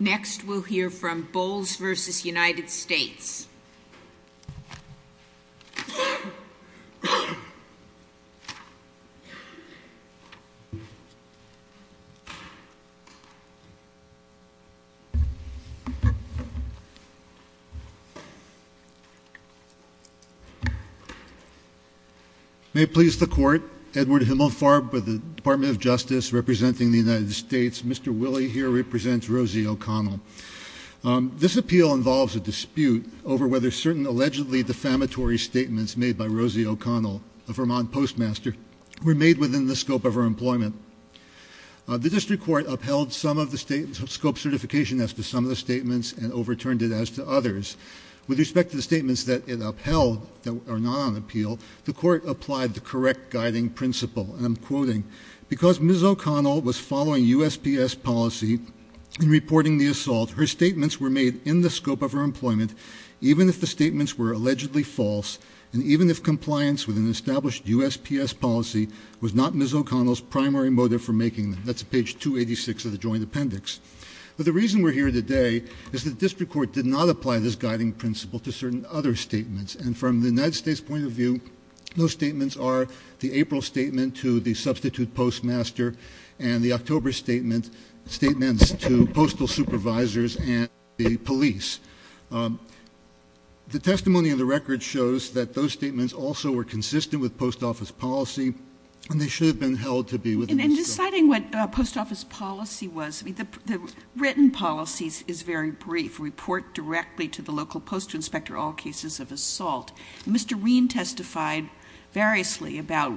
Next we'll hear from Bowles v. United States May it please the court, Edward Himmelfarb with the Department of Justice representing the United States. Mr. Willie here represents Rosie O'Connell. This appeal involves a dispute over whether certain allegedly defamatory statements made by Rosie O'Connell, a Vermont postmaster, were made within the scope of her employment. The district court upheld some of the scope certification as to some of the statements and overturned it as to others. With respect to the statements that it upheld that are not on appeal, the court applied the correct guiding principle and I'm quoting, because Ms. O'Connell was following USPS policy and reporting the assault, her statements were made in the scope of her employment even if the statements were allegedly false and even if compliance with an established USPS policy was not Ms. O'Connell's primary motive for making them. That's page 286 of the Joint Appendix. But the reason we're here today is the district court did not apply this guiding principle to certain other statements and from the United States point of view, those statements are the April statement to the substitute postmaster and the October statement, statements to postal supervisors and the police. The testimony of the record shows that those statements also were consistent with post office policy and they should have been held to be within the scope of the district court. In deciding what post office policy was, the written policies is very brief. Report directly to the local post inspector all cases of assault. Mr. Reen testified variously about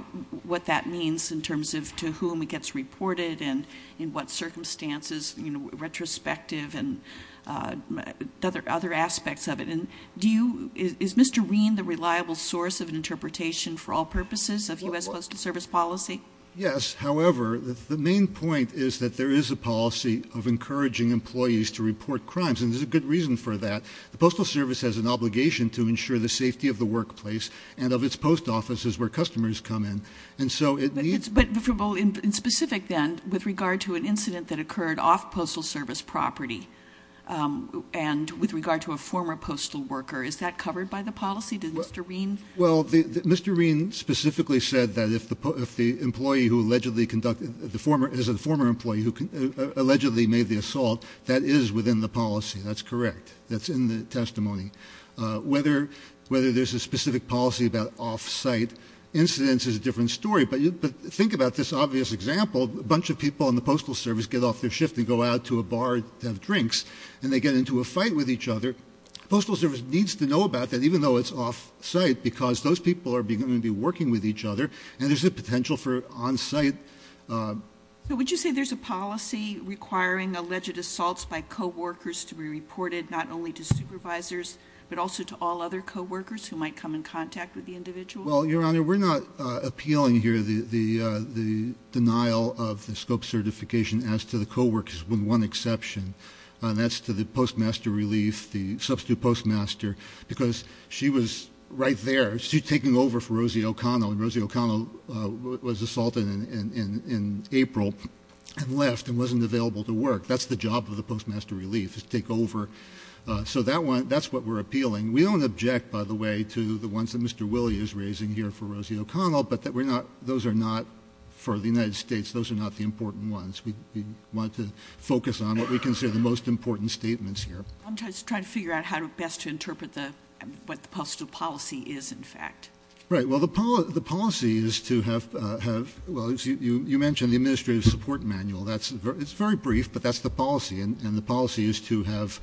what that means in terms of to whom it gets reported and in what circumstances, you know, retrospective and other aspects of it. Is Mr. Reen the reliable source of interpretation for all purposes of US Postal Service policy? Yes, however, the main point is that there is a policy of encouraging employees to report crimes and there's a good reason for that. The Postal Service has an obligation to ensure the safety of the workplace and of its post offices where customers come in and so it needs... But in specific then, with regard to an incident that occurred off Postal Service property and with regard to a former postal worker, is that covered by the policy? Did Mr. Reen... Well, Mr. Reen specifically said that if the employee who allegedly conducted the former, is a former employee who allegedly made the assault, that is within the policy. That's correct. That's in the testimony. Whether there's a specific policy about off-site incidents is a different story, but think about this obvious example. A bunch of people in the Postal Service get off their shift and go out to a bar to have drinks and they get into a fight with each other. Postal Service needs to know about that even though it's off-site because those people are going to be working with each other and there's a potential for on-site... So would you say there's a policy requiring alleged assaults by co-workers to be reported not only to supervisors but also to all other co-workers who might come in contact with the individual? Well, Your Honor, we're not appealing here the denial of the scope certification as to the co-workers with one exception, and that's to the Postmaster Relief, the substitute postmaster, because she was right there. She's taking over for Rosie O'Connell and Rosie O'Connell was assaulted in April and left and wasn't available to work. That's the job of the So that's what we're appealing. We don't object, by the way, to the ones that Mr. Willey is raising here for Rosie O'Connell, but those are not, for the United States, those are not the important ones. We want to focus on what we consider the most important statements here. I'm just trying to figure out how to best to interpret what the postal policy is, in fact. Right, well, the policy is to have... Well, you mentioned the Administrative Support Manual. It's very brief, but that's the policy, and the policy is to have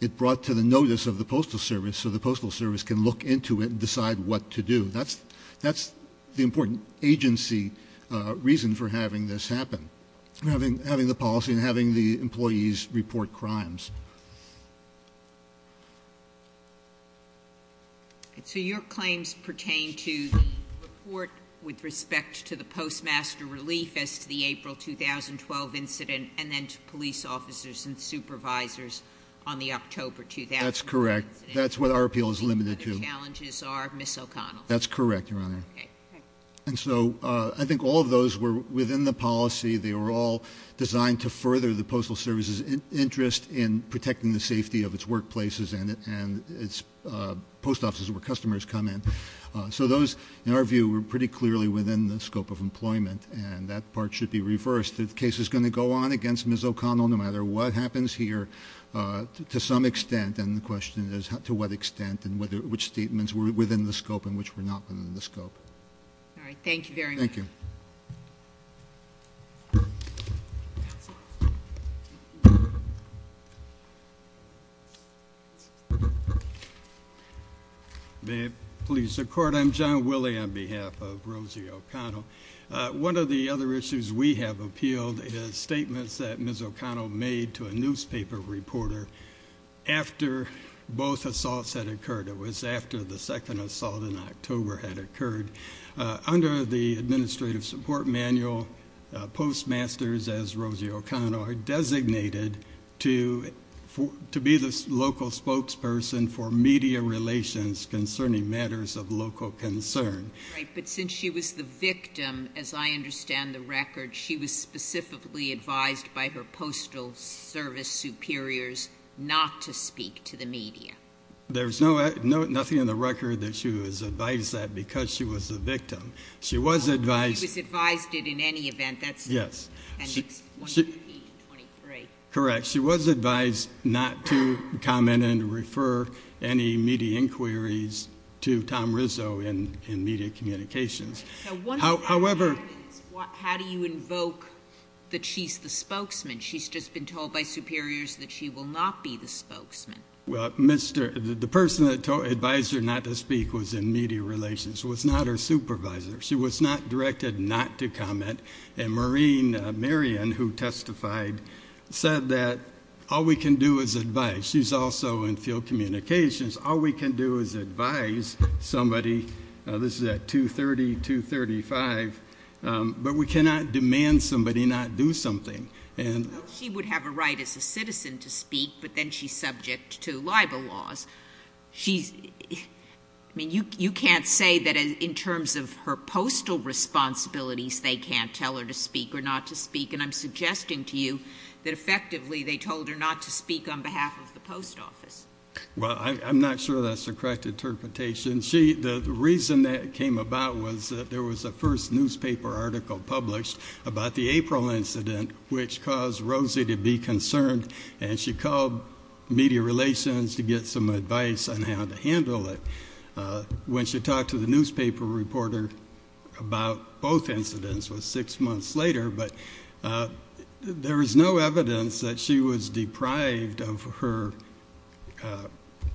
it brought to the notice of the Postal Service so the Postal Service can look into it and decide what to do. That's the important agency reason for having this happen, having the policy and having the employees report crimes. So your claims pertain to the report with respect to the Postmaster Relief as to the April 2012 incident, and then to police officers and supervisors on the October 2012 incident. That's correct. That's what our appeal is limited to. The other challenges are Ms. O'Connell. That's correct, Your Honor. And so I think all of those were within the policy. They were all designed to further the Postal Service's interest in protecting the safety of its workplaces and its post offices where customers come in. So those, in our view, were pretty clearly within the scope of employment, and that part should be reversed. The case is going to go on against Ms. O'Connell no matter what happens here to some extent, and the question is to what extent and which statements were within the scope and which were not within the scope. All right. Thank you very much. Thank you. May it please the Court, I'm John Willie on behalf of Rosie O'Connell. One of the other issues we have appealed is statements that Ms. O'Connell made to a newspaper reporter after both assaults had occurred. It was after the second support manual postmasters as Rosie O'Connell are designated to be the local spokesperson for media relations concerning matters of local concern. Right, but since she was the victim, as I understand the record, she was specifically advised by her Postal Service superiors not to speak to the media. There's nothing in the record that she was advised that because she was the victim. She was advised not to comment and refer any media inquiries to Tom Rizzo in media communications. However, how do you invoke that she's the spokesman? She's just been told by superiors that she will not be the spokesman. Well, the person that advised her not to speak was in media relations, was not her supervisor. She was not directed not to comment and Maureen Marion, who testified, said that all we can do is advise. She's also in field communications. All we can do is advise somebody. This is at 230-235, but we cannot demand somebody not do something. She would have a right as a citizen to speak, but then she's subject to libel laws. She's, I mean, you can't say that in terms of her postal responsibilities they can't tell her to speak or not to speak, and I'm suggesting to you that effectively they told her not to speak on behalf of the post office. Well, I'm not sure that's the correct interpretation. The reason that came about was that there was a first newspaper article published about the April incident, which caused Rosie to be concerned, and she called media relations to get some advice on how to the newspaper reporter about both incidents was six months later, but there is no evidence that she was deprived of her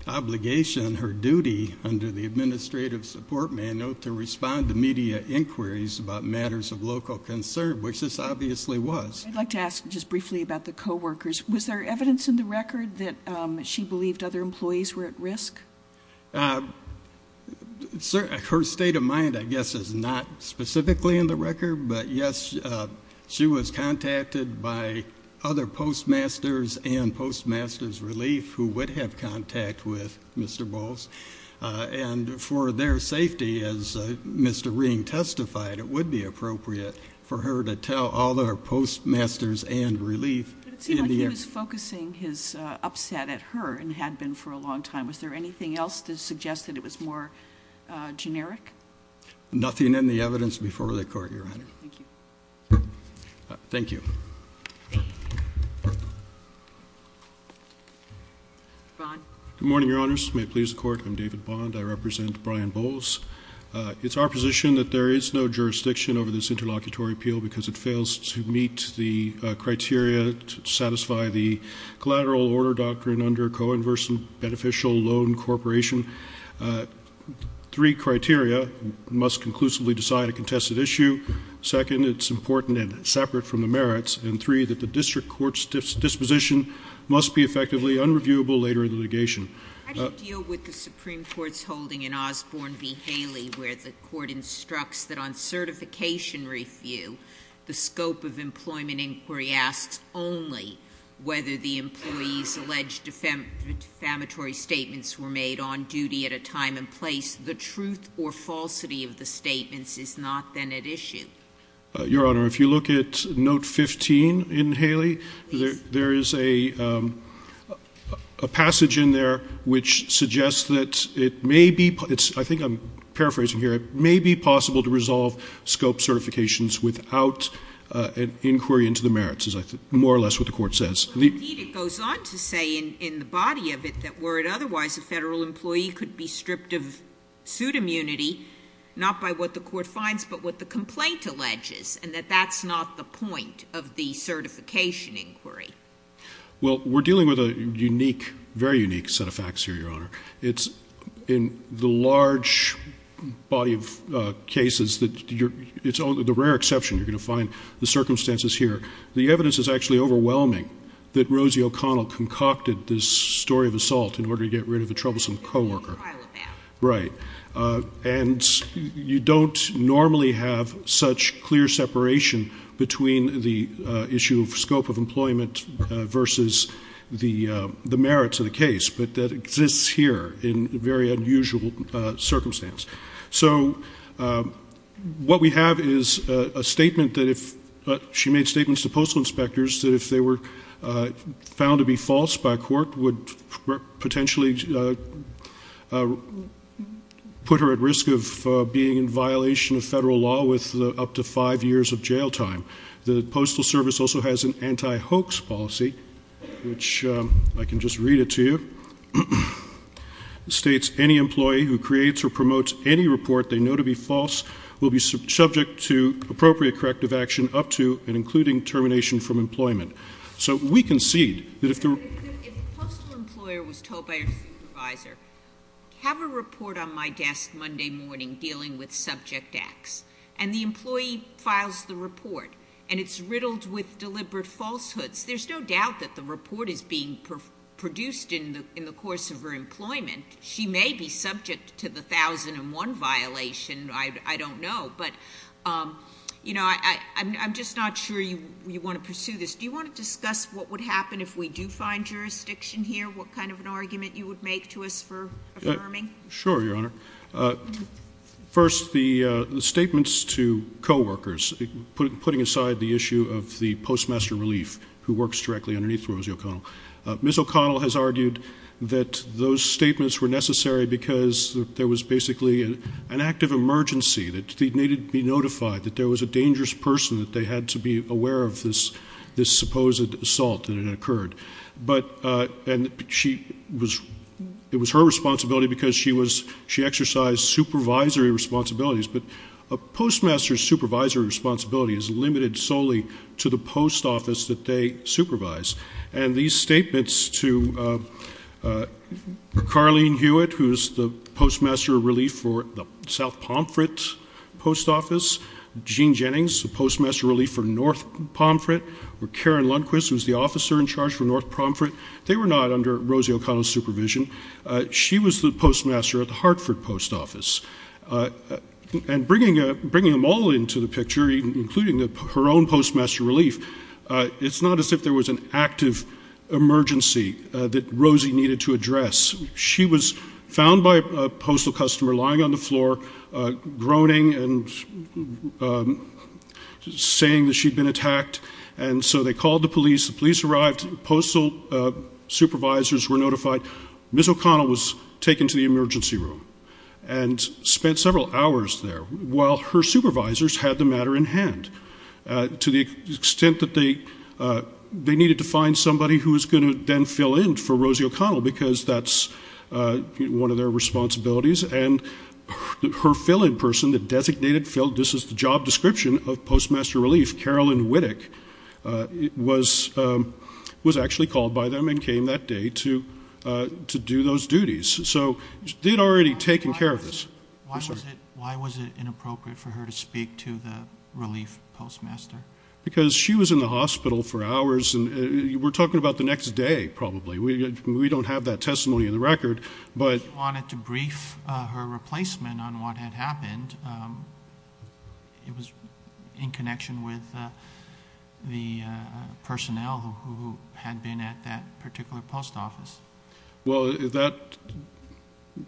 obligation, her duty under the Administrative Support Manual to respond to media inquiries about matters of local concern, which this obviously was. I'd like to ask just briefly about the co-workers. Was there evidence in the record that she believed other employees were at risk? Her state of mind, I guess, is not specifically in the record, but yes, she was contacted by other postmasters and postmasters relief who would have contact with Mr. Bowles, and for their safety, as Mr. Ring testified, it would be appropriate for her to tell all their postmasters and for a long time. Was there anything else to suggest that it was more generic? Nothing in the evidence before the Court, Your Honor. Thank you. Good morning, Your Honors. May it please the Court, I'm David Bond. I represent Brian Bowles. It's our position that there is no jurisdiction over this interlocutory appeal because it fails to meet the criteria to satisfy the beneficial loan corporation. Three criteria must conclusively decide a contested issue. Second, it's important and separate from the merits, and three, that the district court's disposition must be effectively unreviewable later in the litigation. How do you deal with the Supreme Court's holding in Osborne v. Haley where the Court instructs that on certification review, the scope of were made on duty at a time and place. The truth or falsity of the statements is not then at issue. Your Honor, if you look at note 15 in Haley, there is a passage in there which suggests that it may be, I think I'm paraphrasing here, it may be possible to resolve scope certifications without an inquiry into the merits, is more or less what the Court says. Indeed, it goes on to say in the body of it that were it otherwise, a federal employee could be stripped of suit immunity, not by what the Court finds, but what the complaint alleges, and that that's not the point of the certification inquiry. Well, we're dealing with a unique, very unique set of facts here, Your Honor. It's in the large body of cases that you're, it's only the rare exception you're going to find the circumstances here. The evidence is actually overwhelming that Rosie O'Connell concocted this story of assault in order to get rid of a troublesome co-worker. Right. And you don't normally have such clear separation between the issue of scope of employment versus the the merits of the case, but that exists here in very unusual circumstance. So what we have is a statement that if, she made statements to postal inspectors that if they were found to be false by court would potentially put her at risk of being in violation of federal law with up to five years of jail time. The Postal Service also has an anti-hoax policy, which I can just read it to you, states any employee who creates or promotes any report they know to be false will be subject to appropriate corrective action up to and including termination from employment. So we concede that if the... If a postal employer was told by their supervisor, have a report on my desk Monday morning dealing with subject acts, and the employee files the report, and it's riddled with deliberate falsehoods, there's no doubt that the report is being produced in the course of her employment. She may be subject to the thousand and one violation, I don't know, but you know, I'm just not sure you want to pursue this. Do you want to discuss what would happen if we do find jurisdiction here? What kind of an argument you would make to us for affirming? Sure, Your Honor. First, the statements to co-workers, putting aside the issue of the Ms. O'Connell has argued that those statements were necessary because there was basically an act of emergency, that they needed to be notified, that there was a dangerous person, that they had to be aware of this supposed assault that had occurred, and it was her responsibility because she exercised supervisory responsibilities, but a postmaster's supervisory responsibility is limited solely to the post office that they supervise, and these statements to Carlene Hewitt, who's the postmaster of relief for the South Pomfret post office, Jean Jennings, the postmaster of relief for North Pomfret, or Karen Lundquist, who's the officer in charge for North Pomfret, they were not under Rosie O'Connell's supervision. She was the postmaster at the Hartford post office, and bringing them all into the picture, including her own postmaster of relief, it's not as if there was an act of emergency that Rosie needed to address. She was found by a postal customer lying on the floor, groaning and saying that she'd been attacked, and so they called the police. The police arrived. Postal supervisors were notified. Ms. O'Connell was taken to the emergency room and spent several hours there while her supervisors had the matter in hand. To the extent that they needed to find somebody who was going to then fill in for Rosie O'Connell, because that's one of their responsibilities, and her fill-in person, the designated fill, this is the job description of postmaster of relief, Carolyn Wittick, was actually called by them and came that day to do those duties. So they'd already taken care of this. Why was it inappropriate for her to speak to the relief postmaster? Because she was in the hospital for hours. We're talking about the next day, probably. We don't have that testimony in the record. She wanted to brief her replacement on what had happened. It was in connection with the personnel who had been at that particular post office. Well,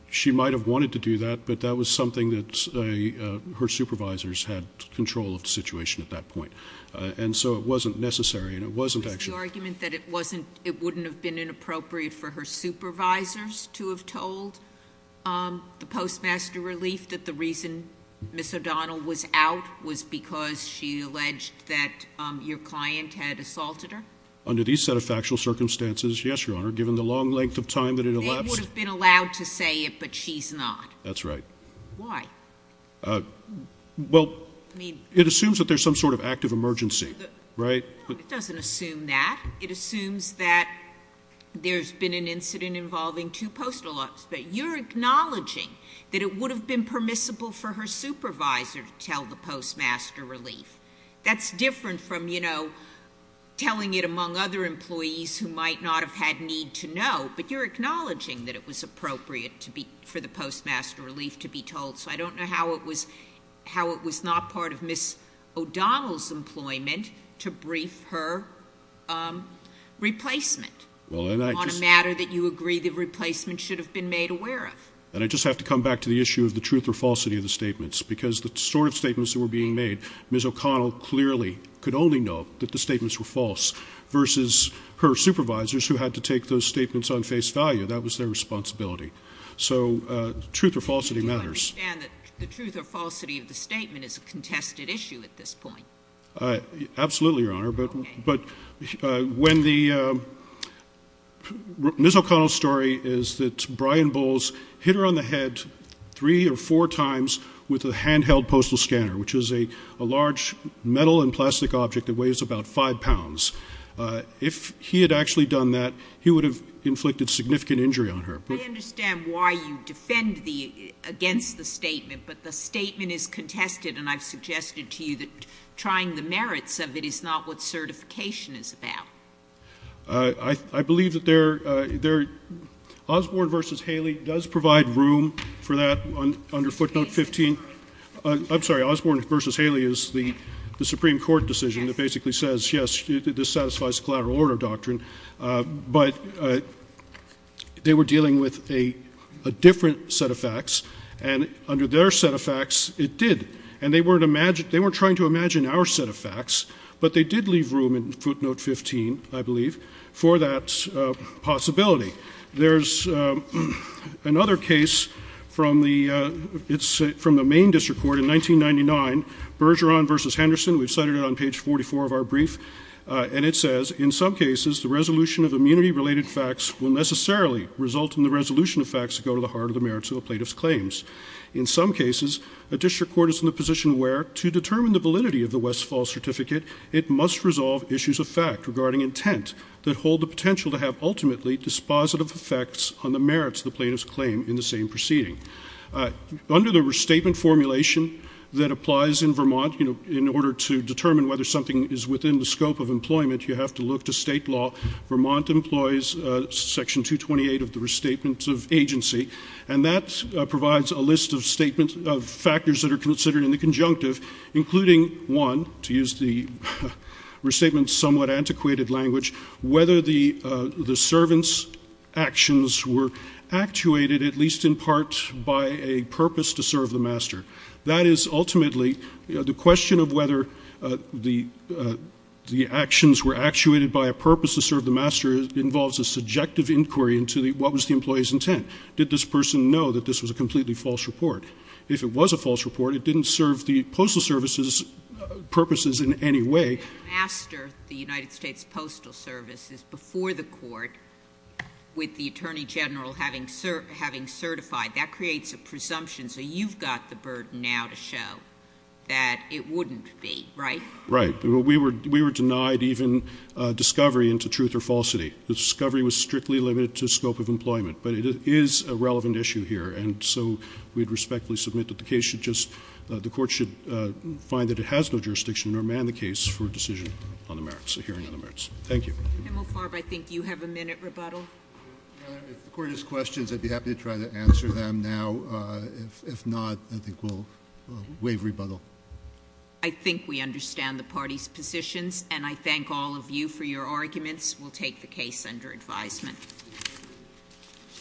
she might have wanted to do that, but that was something that her supervisors had control of the situation at that point. And so it wasn't necessary, and it wasn't actually... Was the argument that it wouldn't have been inappropriate for her supervisors to have told the postmaster relief that the reason Ms. O'Donnell was out was because she alleged that your client had assaulted her? Under these set of factual circumstances, yes, Your Honor, given the long length of time that it elapsed. They would have been allowed to say it, but she's not. That's right. Why? Well, it assumes that there's some sort of active emergency, right? No, it doesn't assume that. It assumes that there's been an incident involving two postal officers. But you're acknowledging that it would have been permissible for her supervisor to tell the postmaster relief. That's different from, you know, telling it among other employees who might not have had need to know, but you're acknowledging that it was appropriate for the postmaster relief to be told. So I don't know how it was not part of Ms. O'Donnell's employment to brief her replacement. On a matter that you agree the replacement should have been made aware of. And I just have to come back to the issue of the truth or falsity of the statements, because the sort of statements that were being made, Ms. O'Donnell clearly could only know that the statements were false versus her supervisors who had to take those statements on face value. That was their responsibility. So truth or falsity matters. Do you understand that the truth or falsity of the statement is a contested issue at this point? Absolutely, Your Honor. Okay. But when the — Ms. O'Donnell's story is that Brian Bowles hit her on the head three or four times with a handheld postal scanner, which is a large metal and plastic object that weighs about five pounds. If he had actually done that, he would have inflicted significant injury on her. I understand why you defend the — against the statement, but the statement is contested, and I've suggested to you that trying the merits of it is not what certification is about. I believe that there — Osborne v. Haley does provide room for that under footnote 15. I'm sorry. Osborne v. Haley is the Supreme Court decision that basically says, yes, this satisfies the collateral order doctrine. But they were dealing with a different set of facts, and under their set of facts, it did. And they weren't trying to imagine our set of facts, but they did leave room in footnote 15, I believe, for that possibility. There's another case from the — it's from the Maine District Court in 1999, Bergeron v. Henderson. We've cited it on page 44 of our brief, and it says, in some cases, the resolution of immunity-related facts will necessarily result in the resolution of facts that go to the heart of the merits of a plaintiff's claims. In some cases, a district court is in the position where, to determine the validity of the Westfall certificate, it must resolve issues of fact regarding intent that hold the potential to have ultimately dispositive effects on the merits of the plaintiff's claim in the same proceeding. Under the restatement formulation that applies in Vermont, in order to determine whether something is within the scope of employment, you have to look to state law. Vermont employs Section 228 of the Restatement of Agency, and that provides a list of factors that are considered in the conjunctive, including, one, to use the restatement's somewhat antiquated language, whether the servant's actions were actuated, at least in part, by a purpose to serve the master. That is, ultimately, the question of whether the actions were actuated by a purpose to serve the master involves a subjective inquiry into what was the employee's intent. Did this person know that this was a completely false report? If it was a false report, it didn't serve the Postal Service's purposes in any way. If the master, the United States Postal Service, is before the court with the Attorney General having certified, that creates a presumption. So you've got the burden now to show that it wouldn't be, right? Right. We were denied even discovery into truth or falsity. The discovery was strictly limited to scope of employment. But it is a relevant issue here. And so we would respectfully submit that the case should just, the court should find that it has no jurisdiction or amend the case for a decision on the merits, a hearing on the merits. Thank you. Ms. Sotomayor, I think you have a minute rebuttal. If the Court has questions, I'd be happy to try to answer them now. If not, I think we'll waive rebuttal. I think we understand the parties' positions, and I thank all of you for your arguments. We'll take the case under advisement. Thank you.